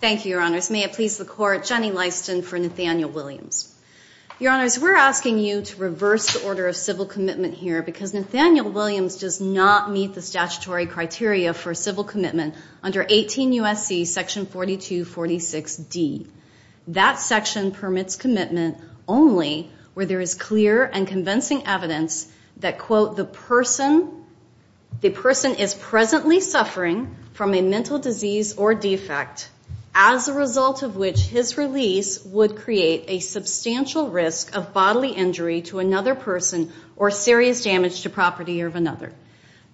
Thank you, your honors. May it please the court, Jenny Lyston for Nathaniel Williams. Your honors, we're asking you to reverse the order of civil commitment here because Nathaniel Williams does not meet the statutory criteria for civil commitment under 18 U.S.C. section 4246D. That section permits commitment only where there is clear and convincing evidence that, quote, the person is presently suffering from a mental disease or defect as a result of which his release would create a substantial risk of bodily injury to another person or serious damage to property of another.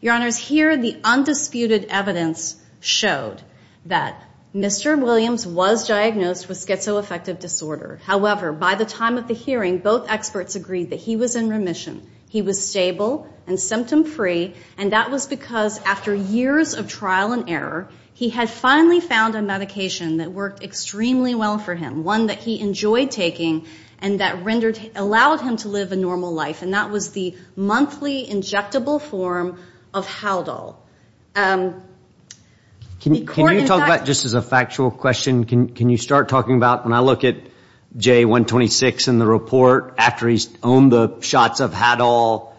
Your honors, here the undisputed evidence showed that Mr. Williams was diagnosed with schizoaffective disorder. However, by the time of the hearing, both experts agreed that he was in remission. He was stable and symptom free, and that was because after years of trial and error, he had finally found a medication that worked extremely well for him, one that he enjoyed taking and that rendered, allowed him to live a normal life, and that was the monthly injectable form of Haldol. The court in fact... Can you talk about, just as a factual question, can you start talking about, when I look at J126 in the report, after he's owned the shots of Haldol,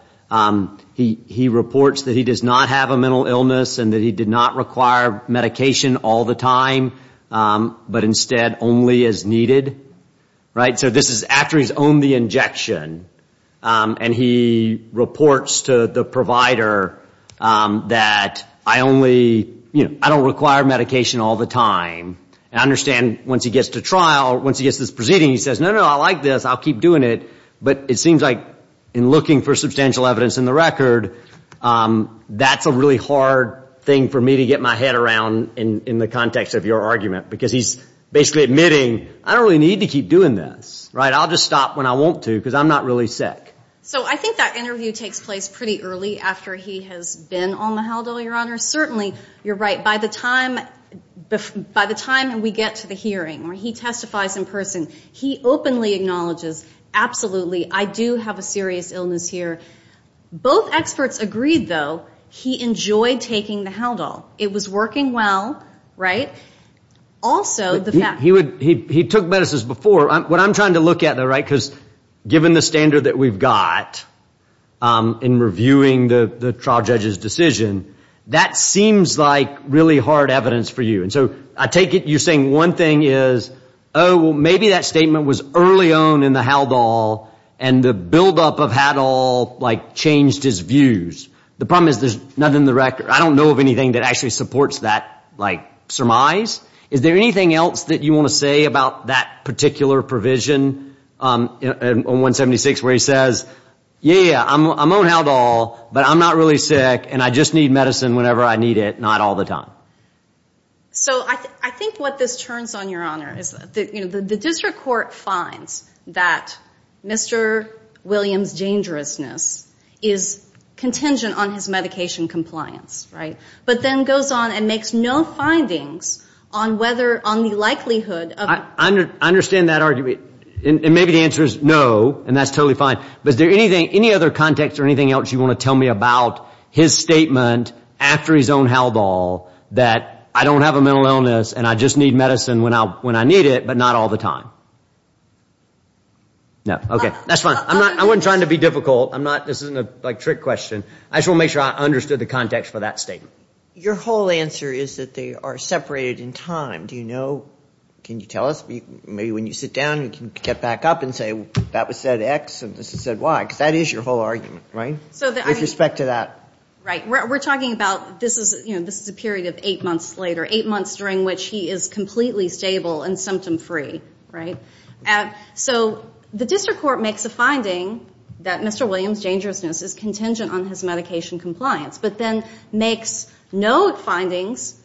he reports that he does not have a mental illness and that he did not require medication all the time, but instead only as needed, right? So this is after he's owned the injection, and he reports to the provider that, I only, you know, I don't require medication all the time. I understand once he gets to trial, once he gets to this proceeding, he says, no, no, I like this, I'll keep doing it, but it seems like in looking for substantial evidence in the record, that's a really hard thing for me to get my head around in the context of your argument because he's basically admitting, I don't really need to keep doing this, right? I'll just stop when I want to because I'm not really sick. So I think that interview takes place pretty early after he has been on the Haldol, Your Honor. Certainly, you're right. By the time we get to the hearing where he testifies in person, he openly acknowledges, absolutely, I do have a serious illness here. Both experts agreed, though, he enjoyed taking the Haldol. It was working well, right? Also, the fact that he took medicines before. What I'm trying to look at though, right, that seems like really hard evidence for you. So I take it you're saying one thing is, oh, well, maybe that statement was early on in the Haldol and the buildup of Haldol changed his views. The problem is there's nothing in the record. I don't know of anything that actually supports that surmise. Is there anything else that you want to say about that particular provision in 176 where he says, yeah, yeah, I'm on Haldol, but I'm not really sick, and I just need medicine whenever I need it, not all the time? So I think what this turns on, Your Honor, is the district court finds that Mr. Williams' dangerousness is contingent on his medication compliance, right, but then goes on and makes no findings on whether, on the likelihood of. I understand that argument. And maybe the answer is no, and that's totally fine, but is there any other context or anything else you want to tell me about his statement after his own Haldol that I don't have a mental illness and I just need medicine when I need it, but not all the time? No, okay, that's fine. I wasn't trying to be difficult. This isn't a trick question. I just want to make sure I understood the context for that statement. Your whole answer is that they are separated in time. Do you know? Can you tell us? Maybe when you sit down you can get back up and say that was said X and this is said Y, because that is your whole argument, right, with respect to that. Right. We're talking about this is a period of eight months later, eight months during which he is completely stable and symptom-free, right? So the district court makes a finding that Mr. Williams' dangerousness is contingent on his medication compliance, but then makes no findings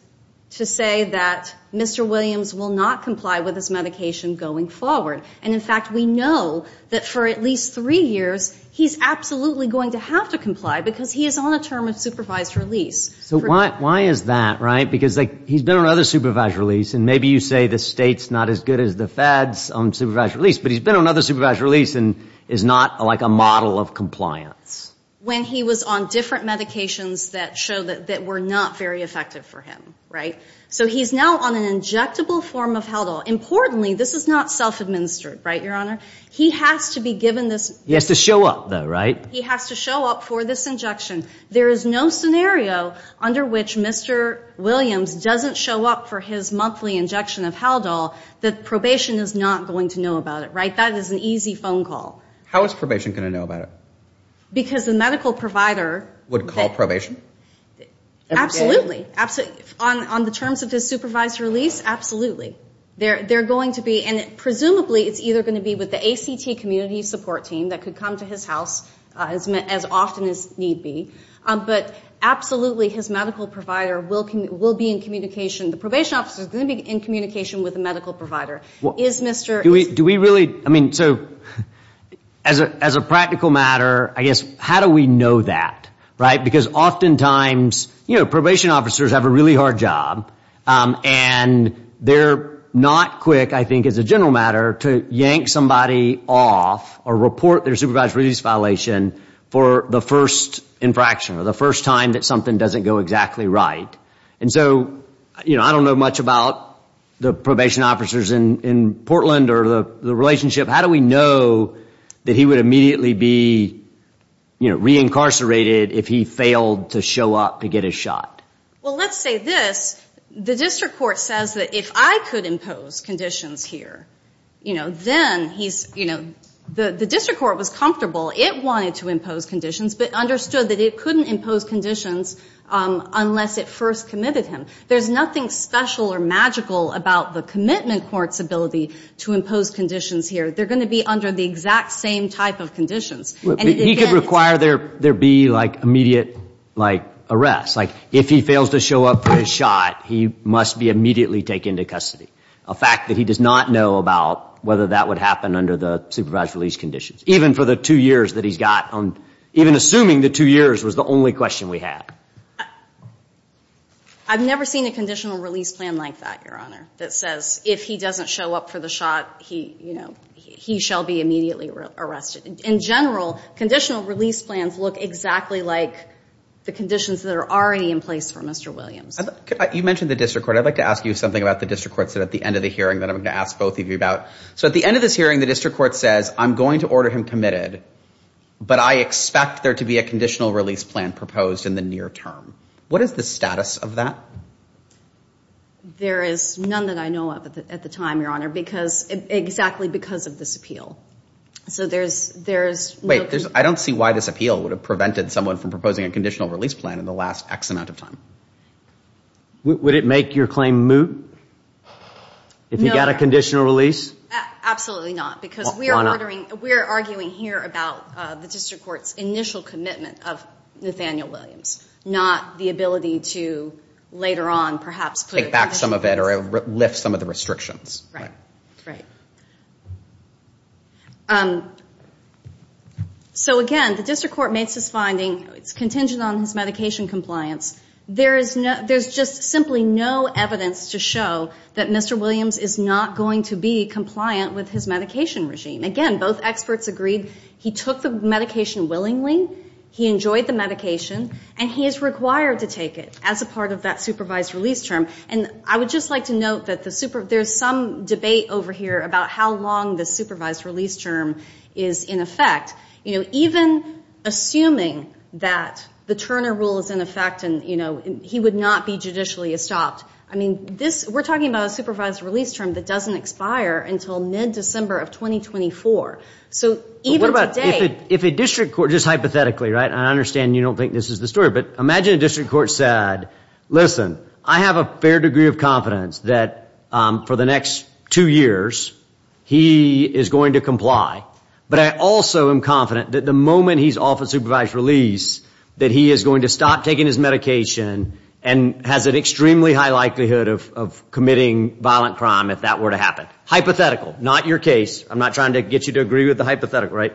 to say that Mr. Williams will not comply with his medication going forward. And, in fact, we know that for at least three years he's absolutely going to have to comply because he is on a term of supervised release. So why is that, right? Because he's been on other supervised release, and maybe you say the state's not as good as the feds on supervised release, but he's been on other supervised release and is not like a model of compliance. When he was on different medications that show that were not very effective for him, right? So he's now on an injectable form of Haldol. Importantly, this is not self-administered, right, Your Honor? He has to be given this. He has to show up, though, right? He has to show up for this injection. There is no scenario under which Mr. Williams doesn't show up for his monthly injection of Haldol that probation is not going to know about it, right? That is an easy phone call. How is probation going to know about it? Because the medical provider would call probation? Absolutely. On the terms of his supervised release, absolutely. They're going to be, and presumably it's either going to be with the ACT community support team that could come to his house as often as need be, but absolutely his medical provider will be in communication. The probation officer is going to be in communication with the medical provider. Do we really, I mean, so as a practical matter, I guess, how do we know that, right? Because oftentimes, you know, probation officers have a really hard job, and they're not quick, I think as a general matter, to yank somebody off or report their supervised release violation for the first infraction or the first time that something doesn't go exactly right. And so, you know, I don't know much about the probation officers in Portland or the relationship. How do we know that he would immediately be, you know, reincarcerated if he failed to show up to get his shot? Well, let's say this. The district court says that if I could impose conditions here, you know, then he's, you know, the district court was comfortable. It wanted to impose conditions but understood that it couldn't impose conditions unless it first committed him. There's nothing special or magical about the commitment court's ability to impose conditions here. They're going to be under the exact same type of conditions. He could require there be, like, immediate, like, arrest. Like, if he fails to show up for his shot, he must be immediately taken to custody, a fact that he does not know about whether that would happen under the supervised release conditions, even for the two years that he's got. Even assuming the two years was the only question we had. I've never seen a conditional release plan like that, Your Honor, that says if he doesn't show up for the shot, he, you know, he shall be immediately arrested. In general, conditional release plans look exactly like the conditions that are already in place for Mr. Williams. You mentioned the district court. I'd like to ask you something about the district court at the end of the hearing that I'm going to ask both of you about. So at the end of this hearing, the district court says, I'm going to order him committed, but I expect there to be a conditional release plan proposed in the near term. What is the status of that? There is none that I know of at the time, Your Honor, because, exactly because of this appeal. So there's no... Wait, I don't see why this appeal would have prevented someone from proposing a conditional release plan in the last X amount of time. Would it make your claim moot if he got a conditional release? Absolutely not. Why not? Because we're arguing here about the district court's initial commitment of Nathaniel Williams, not the ability to later on perhaps put... Take back some of it or lift some of the restrictions. Right, right. So, again, the district court makes this finding. It's contingent on his medication compliance. There's just simply no evidence to show that Mr. Williams is not going to be compliant with his medication regime. Again, both experts agreed he took the medication willingly, he enjoyed the medication, and he is required to take it as a part of that supervised release term. And I would just like to note that there's some debate over here about how long the supervised release term is in effect. Even assuming that the Turner Rule is in effect and he would not be judicially stopped. We're talking about a supervised release term that doesn't expire until mid-December of 2024. So even today... What about if a district court, just hypothetically, right, and I understand you don't think this is the story, but imagine a district court said, listen, I have a fair degree of confidence that for the next two years he is going to comply, but I also am confident that the moment he's off of supervised release that he is going to stop taking his medication and has an extremely high likelihood of committing violent crime if that were to happen. Hypothetical, not your case. I'm not trying to get you to agree with the hypothetical, right?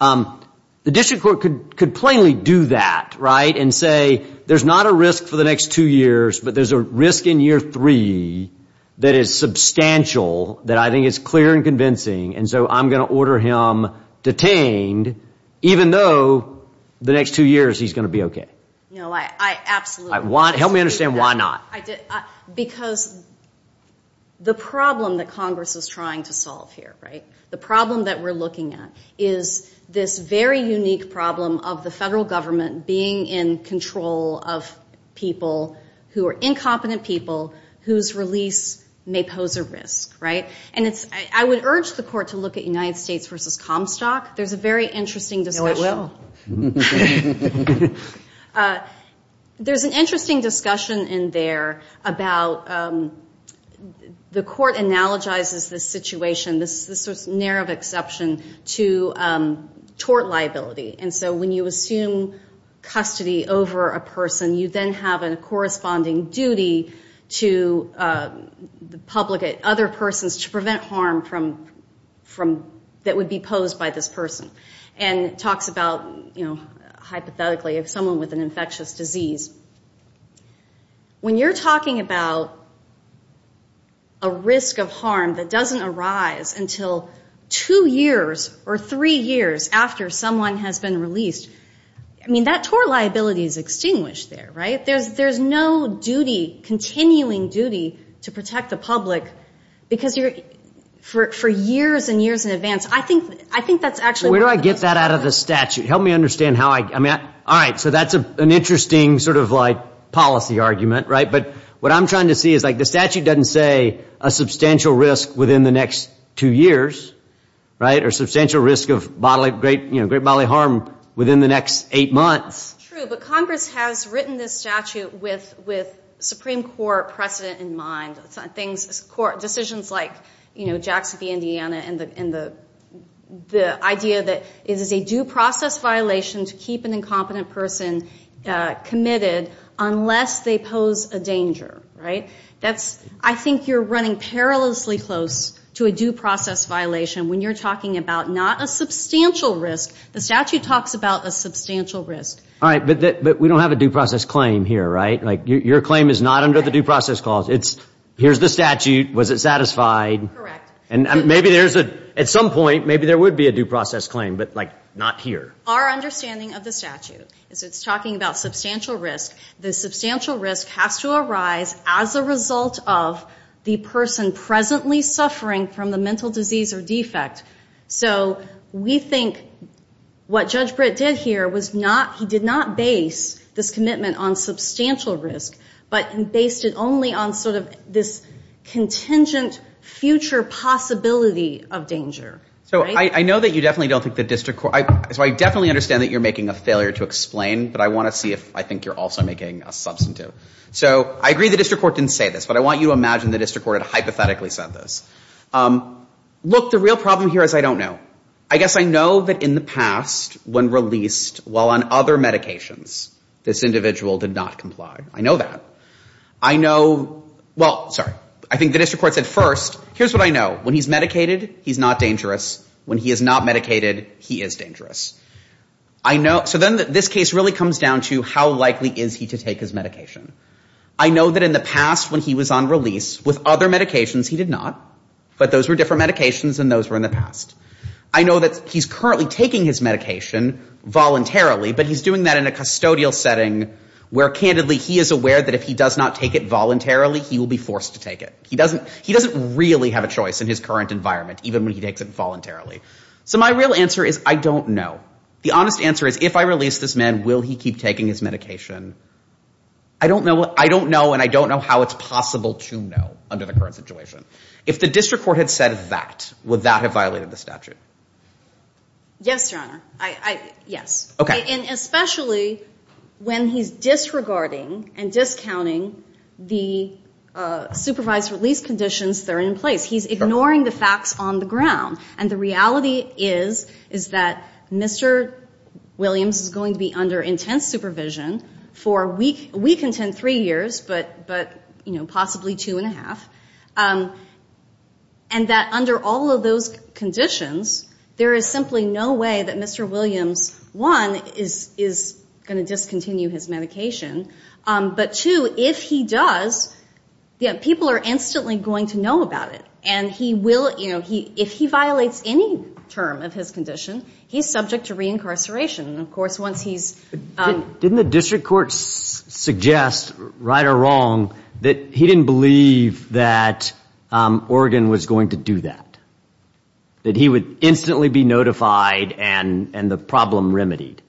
The district court could plainly do that, right, and say there's not a risk for the next two years, but there's a risk in year three that is substantial, that I think is clear and convincing, and so I'm going to order him detained even though the next two years he's going to be okay. Absolutely. Help me understand why not. Because the problem that Congress is trying to solve here, right, the problem that we're looking at is this very unique problem of the federal government being in control of people who are incompetent people whose release may pose a risk, right? And I would urge the court to look at United States v. Comstock. There's a very interesting discussion. No, it will. There's an interesting discussion in there about the court analogizes this situation, this sort of narrow exception, to tort liability. And so when you assume custody over a person, you then have a corresponding duty to the public, other persons, to prevent harm that would be posed by this person. And it talks about, hypothetically, of someone with an infectious disease. When you're talking about a risk of harm that doesn't arise until two years or three years after someone has been released, I mean, that tort liability is extinguished there, right? There's no duty, continuing duty, to protect the public because for years and years in advance, Where do I get that out of the statute? Help me understand how I... All right, so that's an interesting sort of like policy argument, right? But what I'm trying to see is, like, the statute doesn't say a substantial risk within the next two years, right? Or substantial risk of great bodily harm within the next eight months. True, but Congress has written this statute with Supreme Court precedent in mind. Decisions like, you know, Jacksonville, Indiana and the idea that it is a due process violation to keep an incompetent person committed unless they pose a danger, right? That's, I think you're running perilously close to a due process violation when you're talking about not a substantial risk. The statute talks about a substantial risk. All right, but we don't have a due process claim here, right? Like, your claim is not under the due process clause. It's, here's the statute, was it satisfied? Correct. And maybe there's a... At some point, maybe there would be a due process claim, but, like, not here. Our understanding of the statute is it's talking about substantial risk. The substantial risk has to arise as a result of the person presently suffering from the mental disease or defect. So we think what Judge Britt did here was not... he did not base this commitment on substantial risk, but based it only on sort of this contingent future possibility of danger, right? So I know that you definitely don't think the district court... So I definitely understand that you're making a failure to explain, but I want to see if I think you're also making a substantive. So I agree the district court didn't say this, but I want you to imagine the district court had hypothetically said this. Look, the real problem here is I don't know. I guess I know that in the past, when released while on other medications, this individual did not comply. I know that. I know... well, sorry. I think the district court said first, here's what I know. When he's medicated, he's not dangerous. When he is not medicated, he is dangerous. I know... so then this case really comes down to how likely is he to take his medication. I know that in the past when he was on release with other medications, he did not, but those were different medications than those were in the past. I know that he's currently taking his medication voluntarily, but he's doing that in a custodial setting where, candidly, he is aware that if he does not take it voluntarily, he will be forced to take it. He doesn't really have a choice in his current environment, even when he takes it voluntarily. So my real answer is I don't know. The honest answer is if I release this man, will he keep taking his medication? I don't know, and I don't know how it's possible to know under the current situation. If the district court had said that, would that have violated the statute? Yes, Your Honor. I... yes. Okay. And especially when he's disregarding and discounting the supervised release conditions that are in place. He's ignoring the facts on the ground, and the reality is that Mr. Williams is going to be under intense supervision for a week and three years, but possibly two and a half, and that under all of those conditions, there is simply no way that Mr. Williams, one, is going to discontinue his medication, but two, if he does, people are instantly going to know about it, and he will, you know, if he violates any term of his condition, he's subject to reincarceration. Of course, once he's... Didn't the district court suggest, right or wrong, that he didn't believe that Oregon was going to do that, that he would instantly be notified and the problem remedied?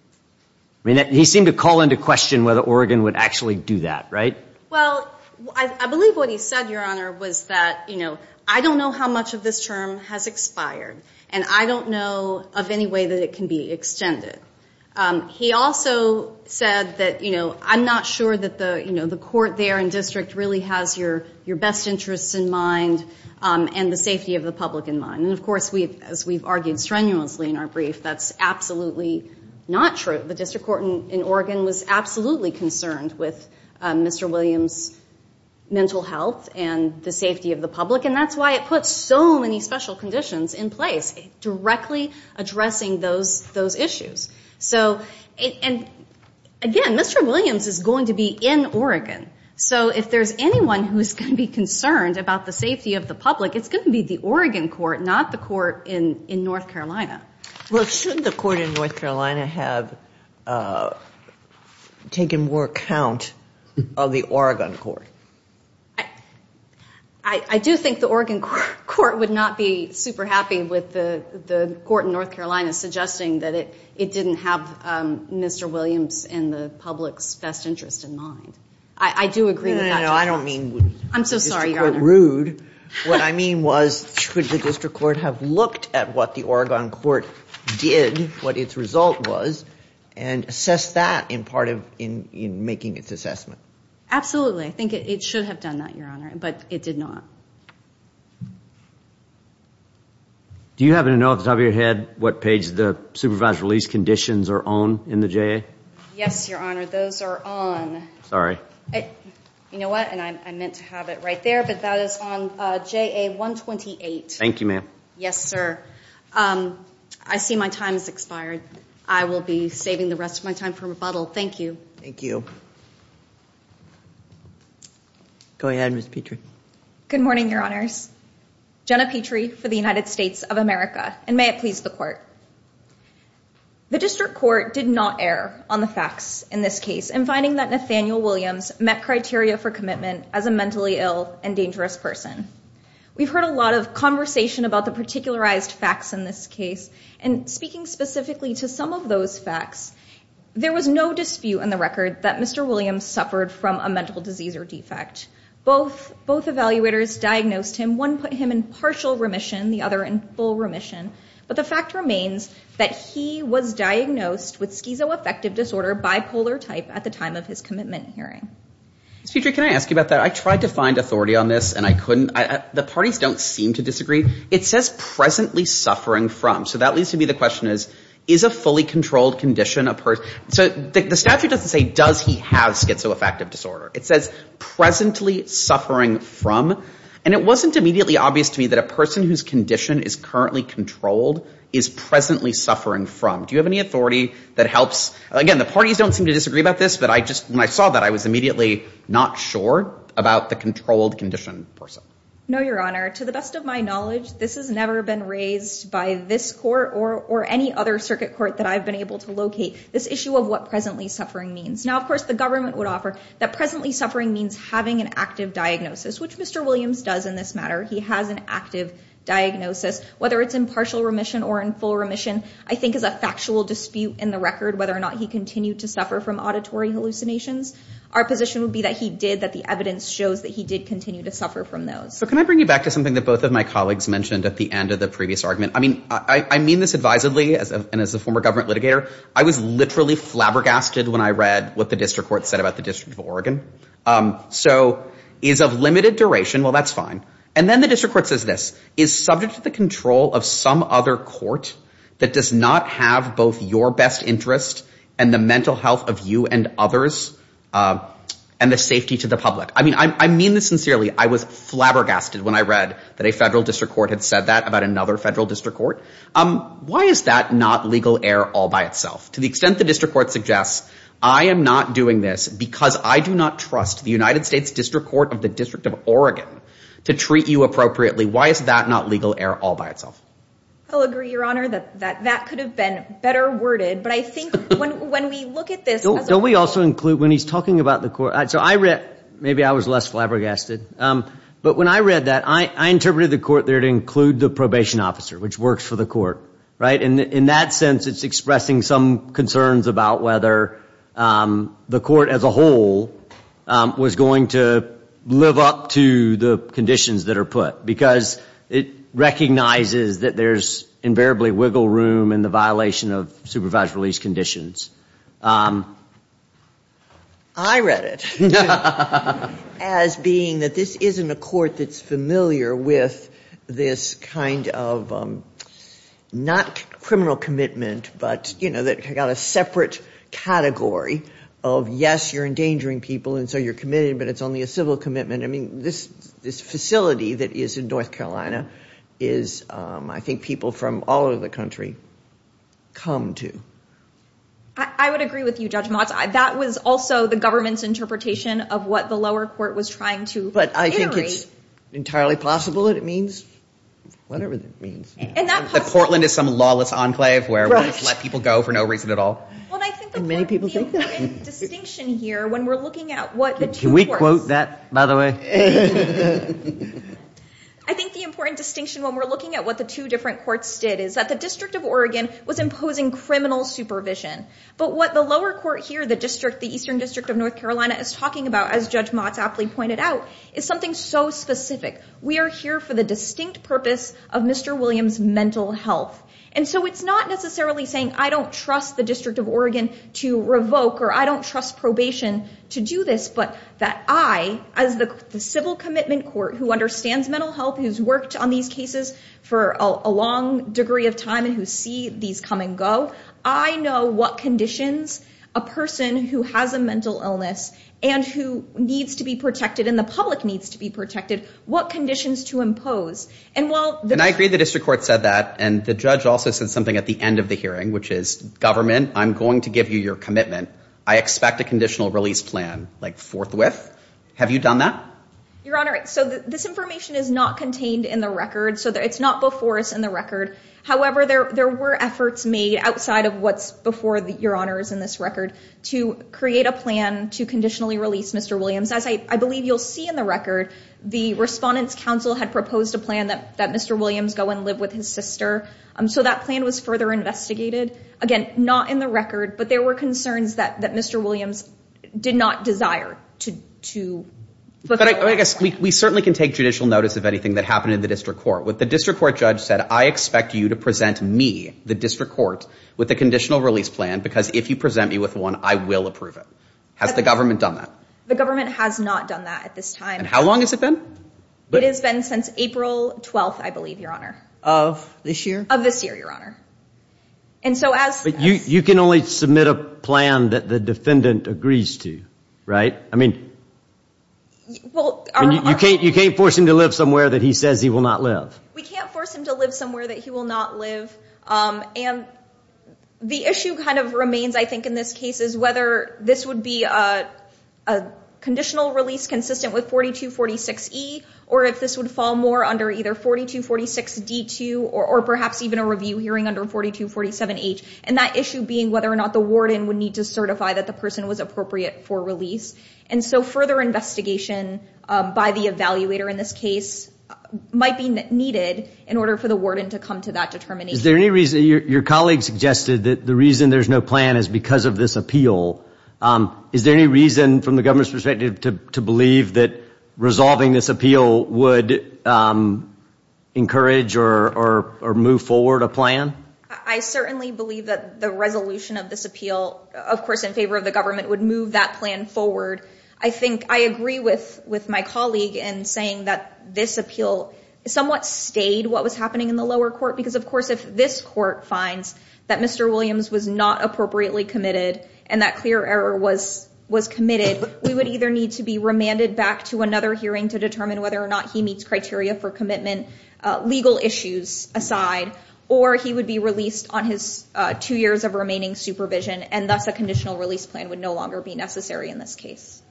I mean, he seemed to call into question whether Oregon would actually do that, right? Well, I believe what he said, Your Honor, was that, you know, I don't know how much of this term has expired, and I don't know of any way that it can be extended. He also said that, you know, I'm not sure that the, you know, the court there and district really has your best interests in mind and the safety of the public in mind, and of course, as we've argued strenuously in our brief, that's absolutely not true. The district court in Oregon was absolutely concerned with Mr. Williams' mental health and the safety of the public, and that's why it puts so many special conditions in place, directly addressing those issues. So, and again, Mr. Williams is going to be in Oregon, so if there's anyone who's going to be concerned about the safety of the public, it's going to be the Oregon court, not the court in North Carolina. Well, shouldn't the court in North Carolina have taken more account of the Oregon court? I do think the Oregon court would not be super happy with the court in North Carolina suggesting that it didn't have Mr. Williams and the public's best interests in mind. I do agree with that. No, no, no, I don't mean Mr. Court rude. What I mean was should the district court have looked at what the Oregon court did, what its result was, and assessed that in making its assessment? Absolutely. I think it should have done that, Your Honor, but it did not. Do you happen to know off the top of your head what page the supervised release conditions are on in the JA? Yes, Your Honor, those are on. Sorry. You know what, and I meant to have it right there, but that is on JA 128. Thank you, ma'am. Yes, sir. I see my time has expired. I will be saving the rest of my time for rebuttal. Thank you. Thank you. Go ahead, Ms. Petrie. Good morning, Your Honors. Jenna Petrie for the United States of America, and may it please the court. The district court did not err on the facts in this case in finding that Nathaniel Williams met criteria for commitment as a mentally ill and dangerous person. We've heard a lot of conversation about the particularized facts in this case, and speaking specifically to some of those facts, there was no dispute in the record that Mr. Williams suffered from a mental disease or defect. Both evaluators diagnosed him. One put him in partial remission, the other in full remission, but the fact remains that he was diagnosed with schizoaffective disorder bipolar type at the time of his commitment hearing. Ms. Petrie, can I ask you about that? I tried to find authority on this, and I couldn't. The parties don't seem to disagree. It says presently suffering from, so that leads to be the question is, is a fully controlled condition a person? So the statute doesn't say does he have schizoaffective disorder. It says presently suffering from, and it wasn't immediately obvious to me that a person whose condition is currently controlled is presently suffering from. Do you have any authority that helps? Again, the parties don't seem to disagree about this, but it appears that I just, when I saw that, I was immediately not sure about the controlled condition person. No, Your Honor. To the best of my knowledge, this has never been raised by this court or any other circuit court that I've been able to locate, this issue of what presently suffering means. Now, of course, the government would offer that presently suffering means having an active diagnosis, which Mr. Williams does in this matter. He has an active diagnosis, whether it's in partial remission or in full remission, I think is a factual dispute in the record whether or not he continued to suffer from auditory hallucinations. Our position would be that he did, that the evidence shows that he did continue to suffer from those. But can I bring you back to something that both of my colleagues mentioned at the end of the previous argument? I mean, I mean this advisedly, and as a former government litigator, I was literally flabbergasted when I read what the district court said about the District of Oregon. So, is of limited duration, well, that's fine. And then the district court says this, is subject to the control of some other court that does not have both your best interest and the mental health of you and others and the safety to the public. I mean, I mean this sincerely. I was flabbergasted when I read that a federal district court had said that about another federal district court. Why is that not legal error all by itself? To the extent the district court suggests, I am not doing this because I do not trust the United States District Court of the District of Oregon to treat you appropriately. Why is that not legal error all by itself? I'll agree, Your Honor, that that could have been better worded. But I think when we look at this... Don't we also include, when he's talking about the court... So I read, maybe I was less flabbergasted. But when I read that, I interpreted the court there to include the probation officer, which works for the court, right? And in that sense, it's expressing some concerns about whether the court as a whole was going to live up to the conditions that are put because it recognizes that there's invariably wiggle room in the violation of supervised release conditions. I read it as being that this isn't a court that's familiar with this kind of, not criminal commitment, but that got a separate category of, yes, you're endangering people and so you're committed, but it's only a civil commitment. I mean, this facility that is in North Carolina is, I think, people from all over the country come to. I would agree with you, Judge Motz. That was also the government's interpretation of what the lower court was trying to iterate. But I think it's entirely possible that it means... Whatever that means. That Portland is some lawless enclave where we just let people go for no reason at all. And many people think that. I think the court made a distinction here when we're looking at what the two courts... Don't quote that, by the way. I think the important distinction when we're looking at what the two different courts did is that the District of Oregon was imposing criminal supervision. But what the lower court here, the Eastern District of North Carolina, is talking about, as Judge Motz aptly pointed out, is something so specific. We are here for the distinct purpose of Mr. Williams' mental health. And so it's not necessarily saying I don't trust the District of Oregon to revoke or I don't trust probation to do this, but that I, as the civil commitment court who understands mental health, who's worked on these cases for a long degree of time and who see these come and go, I know what conditions a person who has a mental illness and who needs to be protected and the public needs to be protected, what conditions to impose. And while... And I agree the district court said that. And the judge also said something at the end of the hearing, which is, government, I'm going to give you your commitment. I expect a conditional release plan like forthwith. Have you done that? Your Honor, so this information is not contained in the record. So it's not before us in the record. However, there were efforts made outside of what's before Your Honor's in this record to create a plan to conditionally release Mr. Williams. As I believe you'll see in the record, the Respondents' Council had proposed a plan that Mr. Williams go and live with his sister. So that plan was further investigated. Again, not in the record, but there were concerns that Mr. Williams did not desire to... But I guess we certainly can take judicial notice of anything that happened in the district court. What the district court judge said, I expect you to present me, the district court, with a conditional release plan because if you present me with one, I will approve it. Has the government done that? The government has not done that at this time. And how long has it been? It has been since April 12th, I believe, Your Honor. Of this year? Of this year, Your Honor. And so as... But you can only submit a plan that the defendant agrees to, right? I mean... Well... You can't force him to live somewhere that he says he will not live. We can't force him to live somewhere that he will not live. And the issue kind of remains, I think, in this case, is whether this would be a conditional release consistent with 4246E, or if this would fall more under either 4246D2 or perhaps even a review hearing under 4247H. And that issue being whether or not the warden would need to certify that the person was appropriate for release. And so further investigation by the evaluator in this case might be needed in order for the warden to come to that determination. Is there any reason... Your colleague suggested that the reason there's no plan is because of this appeal. Is there any reason from the government's perspective to believe that resolving this appeal would encourage or move forward a plan? I certainly believe that the resolution of this appeal, of course, in favor of the government, would move that plan forward. I think I agree with my colleague in saying that this appeal somewhat stayed what was happening in the lower court because, of course, if this court finds that Mr. Williams was not appropriately committed and that clear error was committed, we would either need to be remanded back to another hearing to determine whether or not he meets criteria for commitment, legal issues aside, or he would be released on his two years of remaining supervision, and thus a conditional release plan would no longer be necessary in this case.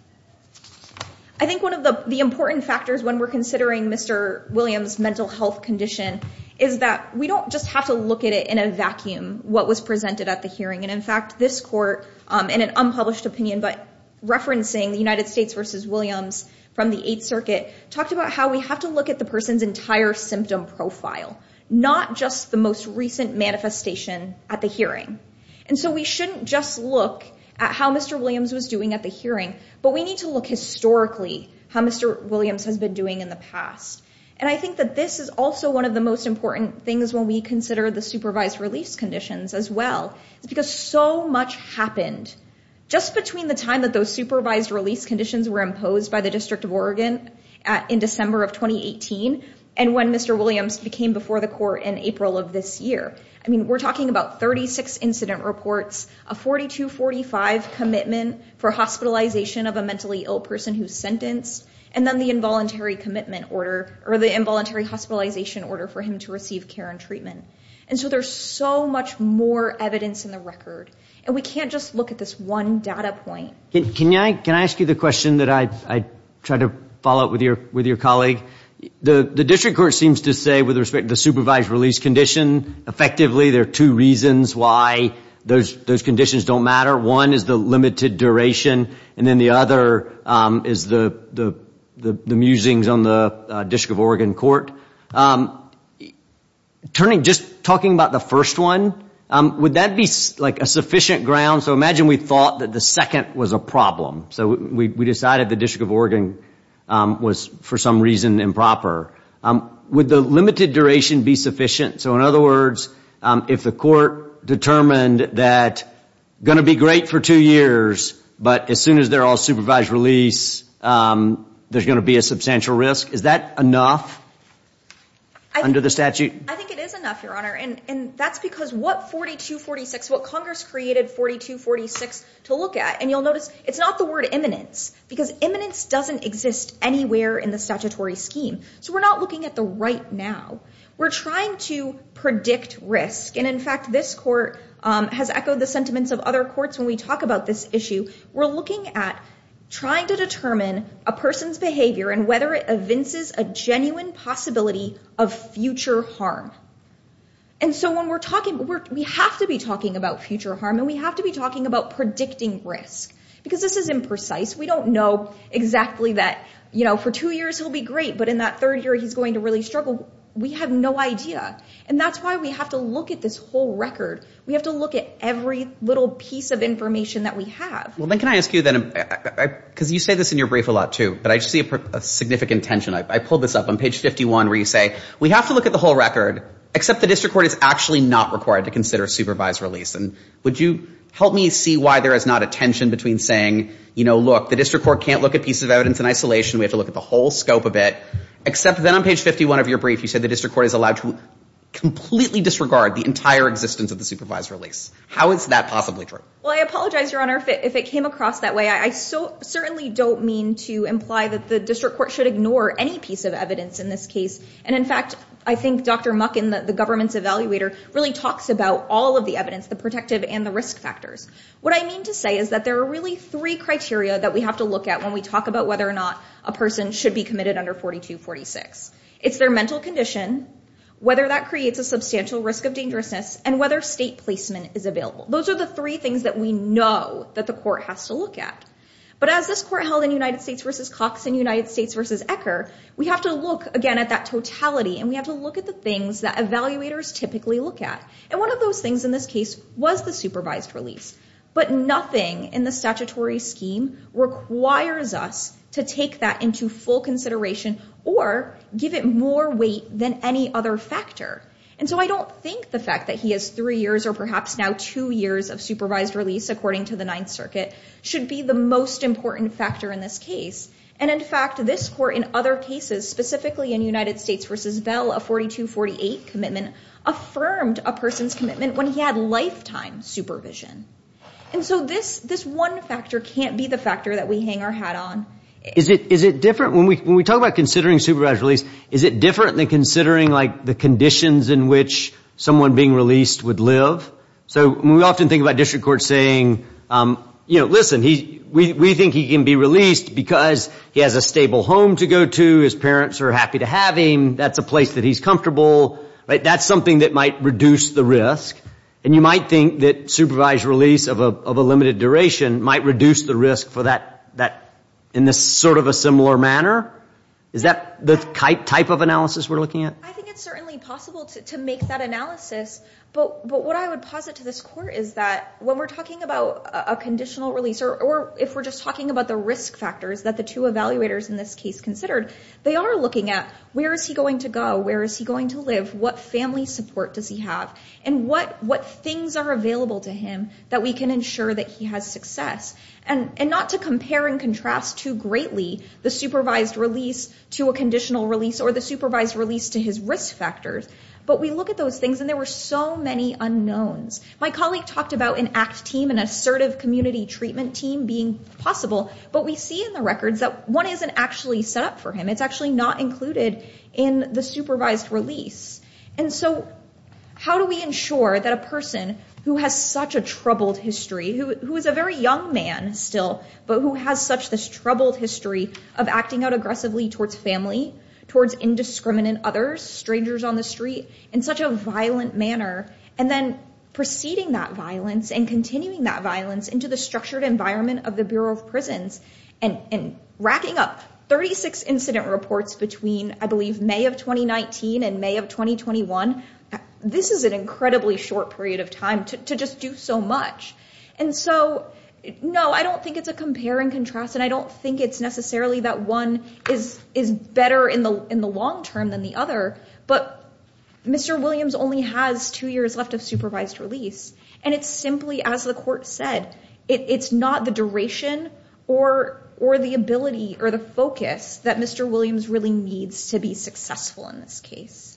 I think one of the important factors when we're considering Mr. Williams' mental health condition is that we don't just have to look at it in a vacuum, what was presented at the hearing. And, in fact, this court, in an unpublished opinion, but referencing the United States v. Williams from the Eighth Circuit, talked about how we have to look at the person's entire symptom profile, not just the most recent manifestation at the hearing. And so we shouldn't just look at how Mr. Williams was doing at the hearing, but we need to look historically how Mr. Williams has been doing in the past. And I think that this is also one of the most important things when we consider the supervised release conditions as well, because so much happened just between the time that those supervised release conditions were imposed by the District of Oregon in December of 2018 and when Mr. Williams became before the court in April of this year. I mean, we're talking about 36 incident reports, a 42-45 commitment for hospitalization of a mentally ill person who's sentenced, and then the involuntary commitment order, or the involuntary hospitalization order for him to receive care and treatment. And so there's so much more evidence in the record, and we can't just look at this one data point. Can I ask you the question that I tried to follow up with your colleague? The District Court seems to say with respect to the supervised release condition, effectively, there are two reasons why those conditions don't matter. One is the limited duration, and then the other is the musings on the District of Oregon court. Just talking about the first one, would that be a sufficient ground? So imagine we thought that the second was a problem. So we decided the District of Oregon was for some reason improper. Would the limited duration be sufficient? So in other words, if the court determined that going to be great for two years, but as soon as they're all supervised release, there's going to be a substantial risk, is that enough under the statute? I think it is enough, Your Honor, and that's because what 42-46, what Congress created 42-46 to look at, and you'll notice it's not the word imminence because imminence doesn't exist anywhere in the statutory scheme. So we're not looking at the right now. We're trying to predict risk, and in fact, this court has echoed the sentiments of other courts when we talk about this issue. We're looking at trying to determine a person's behavior and whether it evinces a genuine possibility of future harm. And so when we're talking, we have to be talking about future harm, and we have to be talking about predicting risk because this is imprecise. We don't know exactly that, you know, for two years, he'll be great, but in that third year, he's going to really struggle. We have no idea, and that's why we have to look at this whole record. We have to look at every little piece of information that we have. Well, then can I ask you then, because you say this in your brief a lot too, but I see a significant tension. I pulled this up on page 51 where you say we have to look at the whole record except the district court is actually not required to consider supervised release, and would you help me see why there is not a tension between saying, you know, look, the district court can't look at pieces of evidence in isolation, we have to look at the whole scope of it, except then on page 51 of your brief, you said the district court is allowed to completely disregard the entire existence of the supervised release. How is that possibly true? Well, I apologize, Your Honor, if it came across that way. I certainly don't mean to imply that the district court should ignore any piece of evidence in this case, and in fact, I think Dr. Muckin, the government's evaluator, really talks about all of the evidence, the protective and the risk factors. What I mean to say is that there are really three criteria that we have to look at when we talk about whether or not a person should be committed under 4246. It's their mental condition, whether that creates a substantial risk of dangerousness, and whether state placement is available. Those are the three things that we know that the court has to look at. But as this court held in United States v. Cox and United States v. Ecker, we have to look, again, at that totality and we have to look at the things that evaluators typically look at. And one of those things in this case was the supervised release. But nothing in the statutory scheme requires us to take that into full consideration or give it more weight than any other factor. And so I don't think the fact that he has three years or perhaps now two years of supervised release, according to the Ninth Circuit, should be the most important factor in this case. And in fact, this court in other cases, specifically in United States v. Bell, a 4248 commitment affirmed a person's commitment when he had lifetime supervision. And so this one factor can't be the factor that we hang our hat on. Is it different? When we talk about considering supervised release, is it different than considering the conditions in which someone being released would live? We often think about district courts saying, listen, we think he can be released because he has a stable home to go to, his parents are happy to have him, that's a place that he's comfortable. That's something that might reduce the risk. And you might think that supervised release of a limited duration might reduce the risk for that in sort of a similar manner. Is that the type of analysis we're looking at? I think it's certainly possible to make that analysis. But what I would posit to this court is that when we're talking about a conditional release, or if we're just talking about the risk factors that the two evaluators in this case considered, they are looking at where is he going to go, where is he going to live, what family support does he have, and what things are available to him that we can ensure that he has success. And not to compare and contrast too greatly the supervised release to a conditional release, or the supervised release to his risk factors, but we look at those things, and there were so many unknowns. My colleague talked about an ACT team, an assertive community treatment team being possible, but we see in the records that one isn't actually set up for him. It's actually not included in the supervised release. And so how do we ensure that a person who has such a troubled history, who is a very young man still, but who has such this troubled history of acting out aggressively towards family, towards indiscriminate others, strangers on the street, in such a violent manner, and then preceding that into the structured environment of the Bureau of Prisons, and racking up 36 incident reports between, I believe, May of 2019 and May of 2021, this is an incredibly short period of time to just do so much. And so, no, I don't think it's a compare and contrast, and I don't think it's necessarily that one is better in the long term than the other, but Mr. Williams only has two years left of supervised release. And it's simply, as the Court said, it's not the duration or the ability or the focus that Mr. Williams really needs to be successful in this case.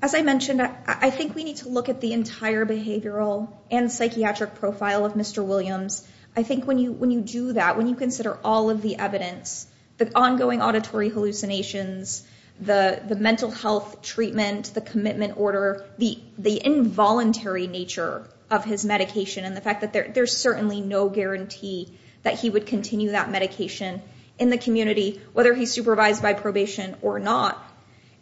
As I mentioned, I think we need to look at the entire behavioral and psychiatric profile of Mr. Williams. I think when you do that, when you consider all of the evidence, the ongoing auditory hallucinations, the mental health treatment, the commitment order, the involuntary nature of his medication, and the fact that there's certainly no guarantee that he would continue that medication in the community, whether he's supervised by probation or not,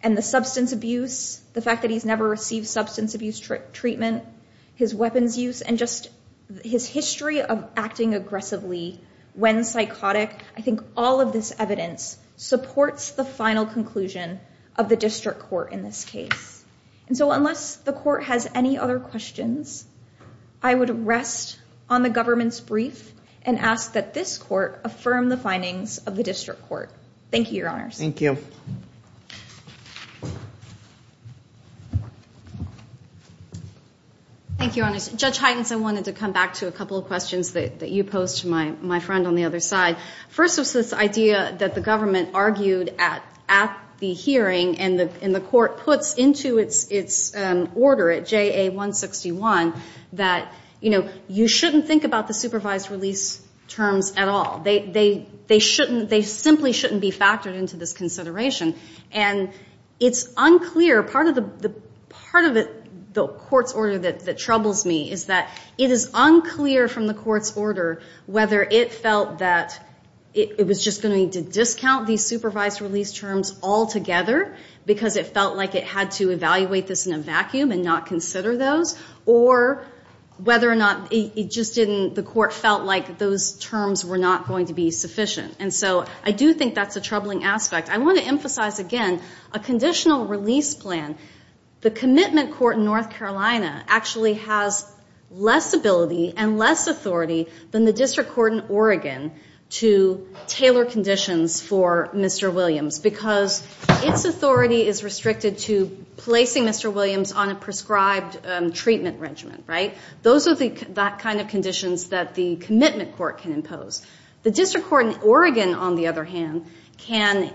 and the substance abuse, the fact that he's never received substance abuse treatment, his weapons use, and just his history of acting aggressively when psychotic, I think all of this evidence supports the final conclusion of the District Court in this case. And so unless the Court has any other questions, I would rest on the government's brief and ask that this Court affirm the findings of the District Court. Thank you, Your Honors. Thank you, Your Honors. Judge Heintz, I wanted to come back to a couple of questions that you posed to my friend on the other side. First was this government argued at the hearing, and the Court puts into its order at JA-161 that, you know, you shouldn't think about the supervised release terms at all. They simply shouldn't be factored into this consideration, and it's unclear. Part of the Court's order that troubles me is that it is unclear from the Court's order whether it felt that it was just going to need to discount these supervised release terms altogether because it felt like it had to evaluate this in a vacuum and not consider those, or whether or not it just didn't the Court felt like those terms were not going to be sufficient. And so I do think that's a troubling aspect. I want to emphasize again a conditional release plan. The commitment court in North Carolina actually has less ability and less authority than the to tailor conditions for Mr. Williams because its authority is restricted to placing Mr. Williams on a prescribed treatment regimen, right? Those are the kind of conditions that the commitment court can impose. The district court in Oregon on the other hand can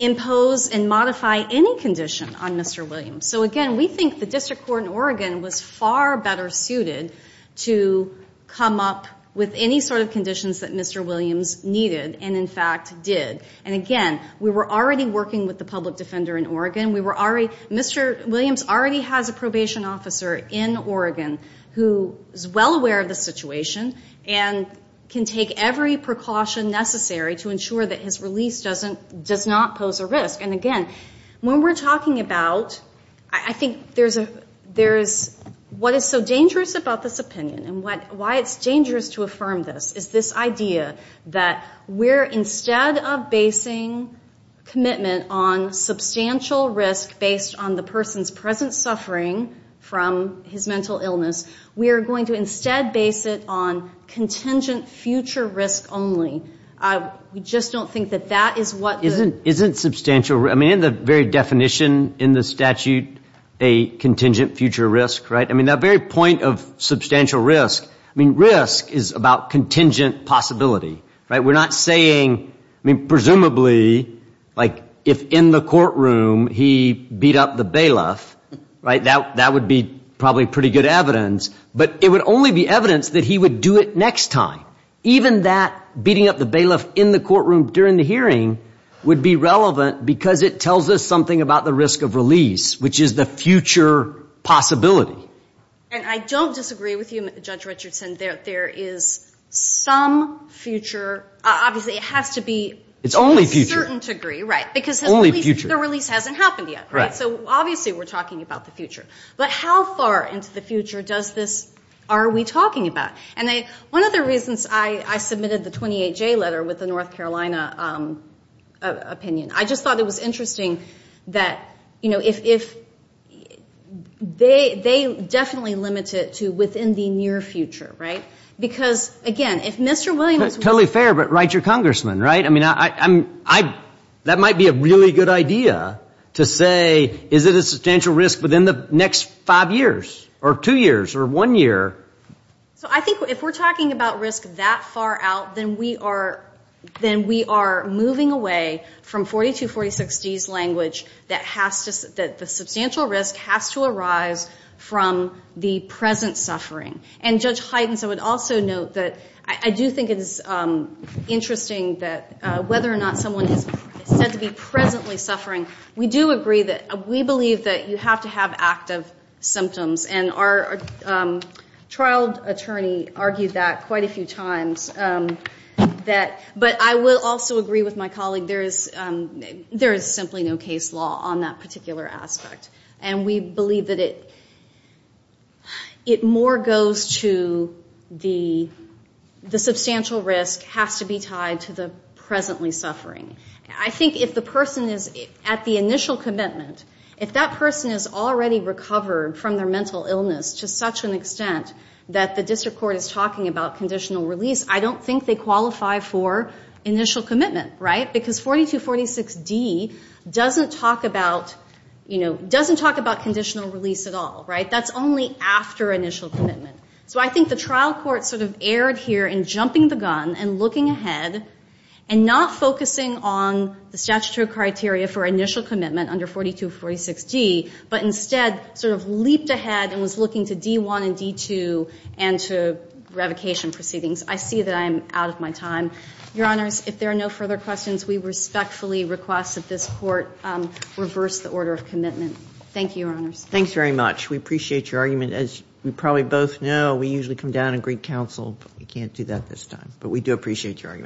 impose and modify any condition on Mr. Williams. So again, we think the district court in Oregon was far better suited to come up with any sort of conditions that Mr. Williams needed and in fact did. And again, we were already working with the public defender in Oregon. Mr. Williams already has a probation officer in Oregon who is well aware of the situation and can take every precaution necessary to ensure that his release does not pose a risk. And again, when we're talking about, I think there's what is so dangerous about this opinion and why it's dangerous to affirm this is this idea that we're instead of basing commitment on substantial risk based on the person's present suffering from his mental illness, we're going to instead base it on contingent future risk only. We just don't think that that is what the... Isn't substantial risk, I mean in the very definition in the statute, a contingent future risk, right? That very point of substantial risk, risk is about contingent possibility. We're not saying, presumably if in the courtroom he beat up the bailiff, that would be probably pretty good evidence, but it would only be evidence that he would do it next time. Even that beating up the bailiff in the courtroom during the hearing would be relevant because it tells us something about the risk of release, which is the future possibility. And I don't disagree with you, Judge Richardson. There is some future, obviously it has to be to a certain degree. It's only future. Only future. The release hasn't happened yet. Right. So obviously we're talking about the future. But how far into the future does this... are we talking about? One of the reasons I submitted the 28J letter with the North Carolina opinion, I just thought it was interesting that if... they definitely limit it to within the near future, right? Because, again, if Mr. Williams... Totally fair, but write your congressman, right? I mean, that might be a really good idea to say, is it a substantial risk within the next five years or two years or one year? So I think if we're talking about risk that far out, then we are moving away from 42-40-60's language that the substantial risk has to arise from the present suffering. And Judge Heidens, I would also note that I do think it is interesting that whether or not someone is said to be presently suffering, we do agree that we believe that you have to have active symptoms. And our trial attorney argued that quite a few times. But I will also agree with my colleague that there is simply no case law on that particular aspect. And we believe that it more goes to the substantial risk has to be tied to the presently suffering. I think if the person is at the initial commitment, if that person is already recovered from their mental illness to such an extent that the district court is talking about conditional release, I don't think they qualify for initial commitment. Because 42-46-D doesn't talk about conditional release at all. That's only after initial commitment. So I think the trial court sort of erred here in jumping the gun and looking ahead and not focusing on the statutory criteria for initial commitment under 42-46-D, but instead sort of leaped ahead and was looking to D-1 and D-2 and to revocation proceedings. I see that I am out of my time. Your Honors, if there are no further questions, we respectfully request that this court reverse the order of commitment. Thank you, Your Honors. Thanks very much. We appreciate your argument. As we probably both know, we usually come down and greet counsel, but we can't do that this time. But we do appreciate your argument.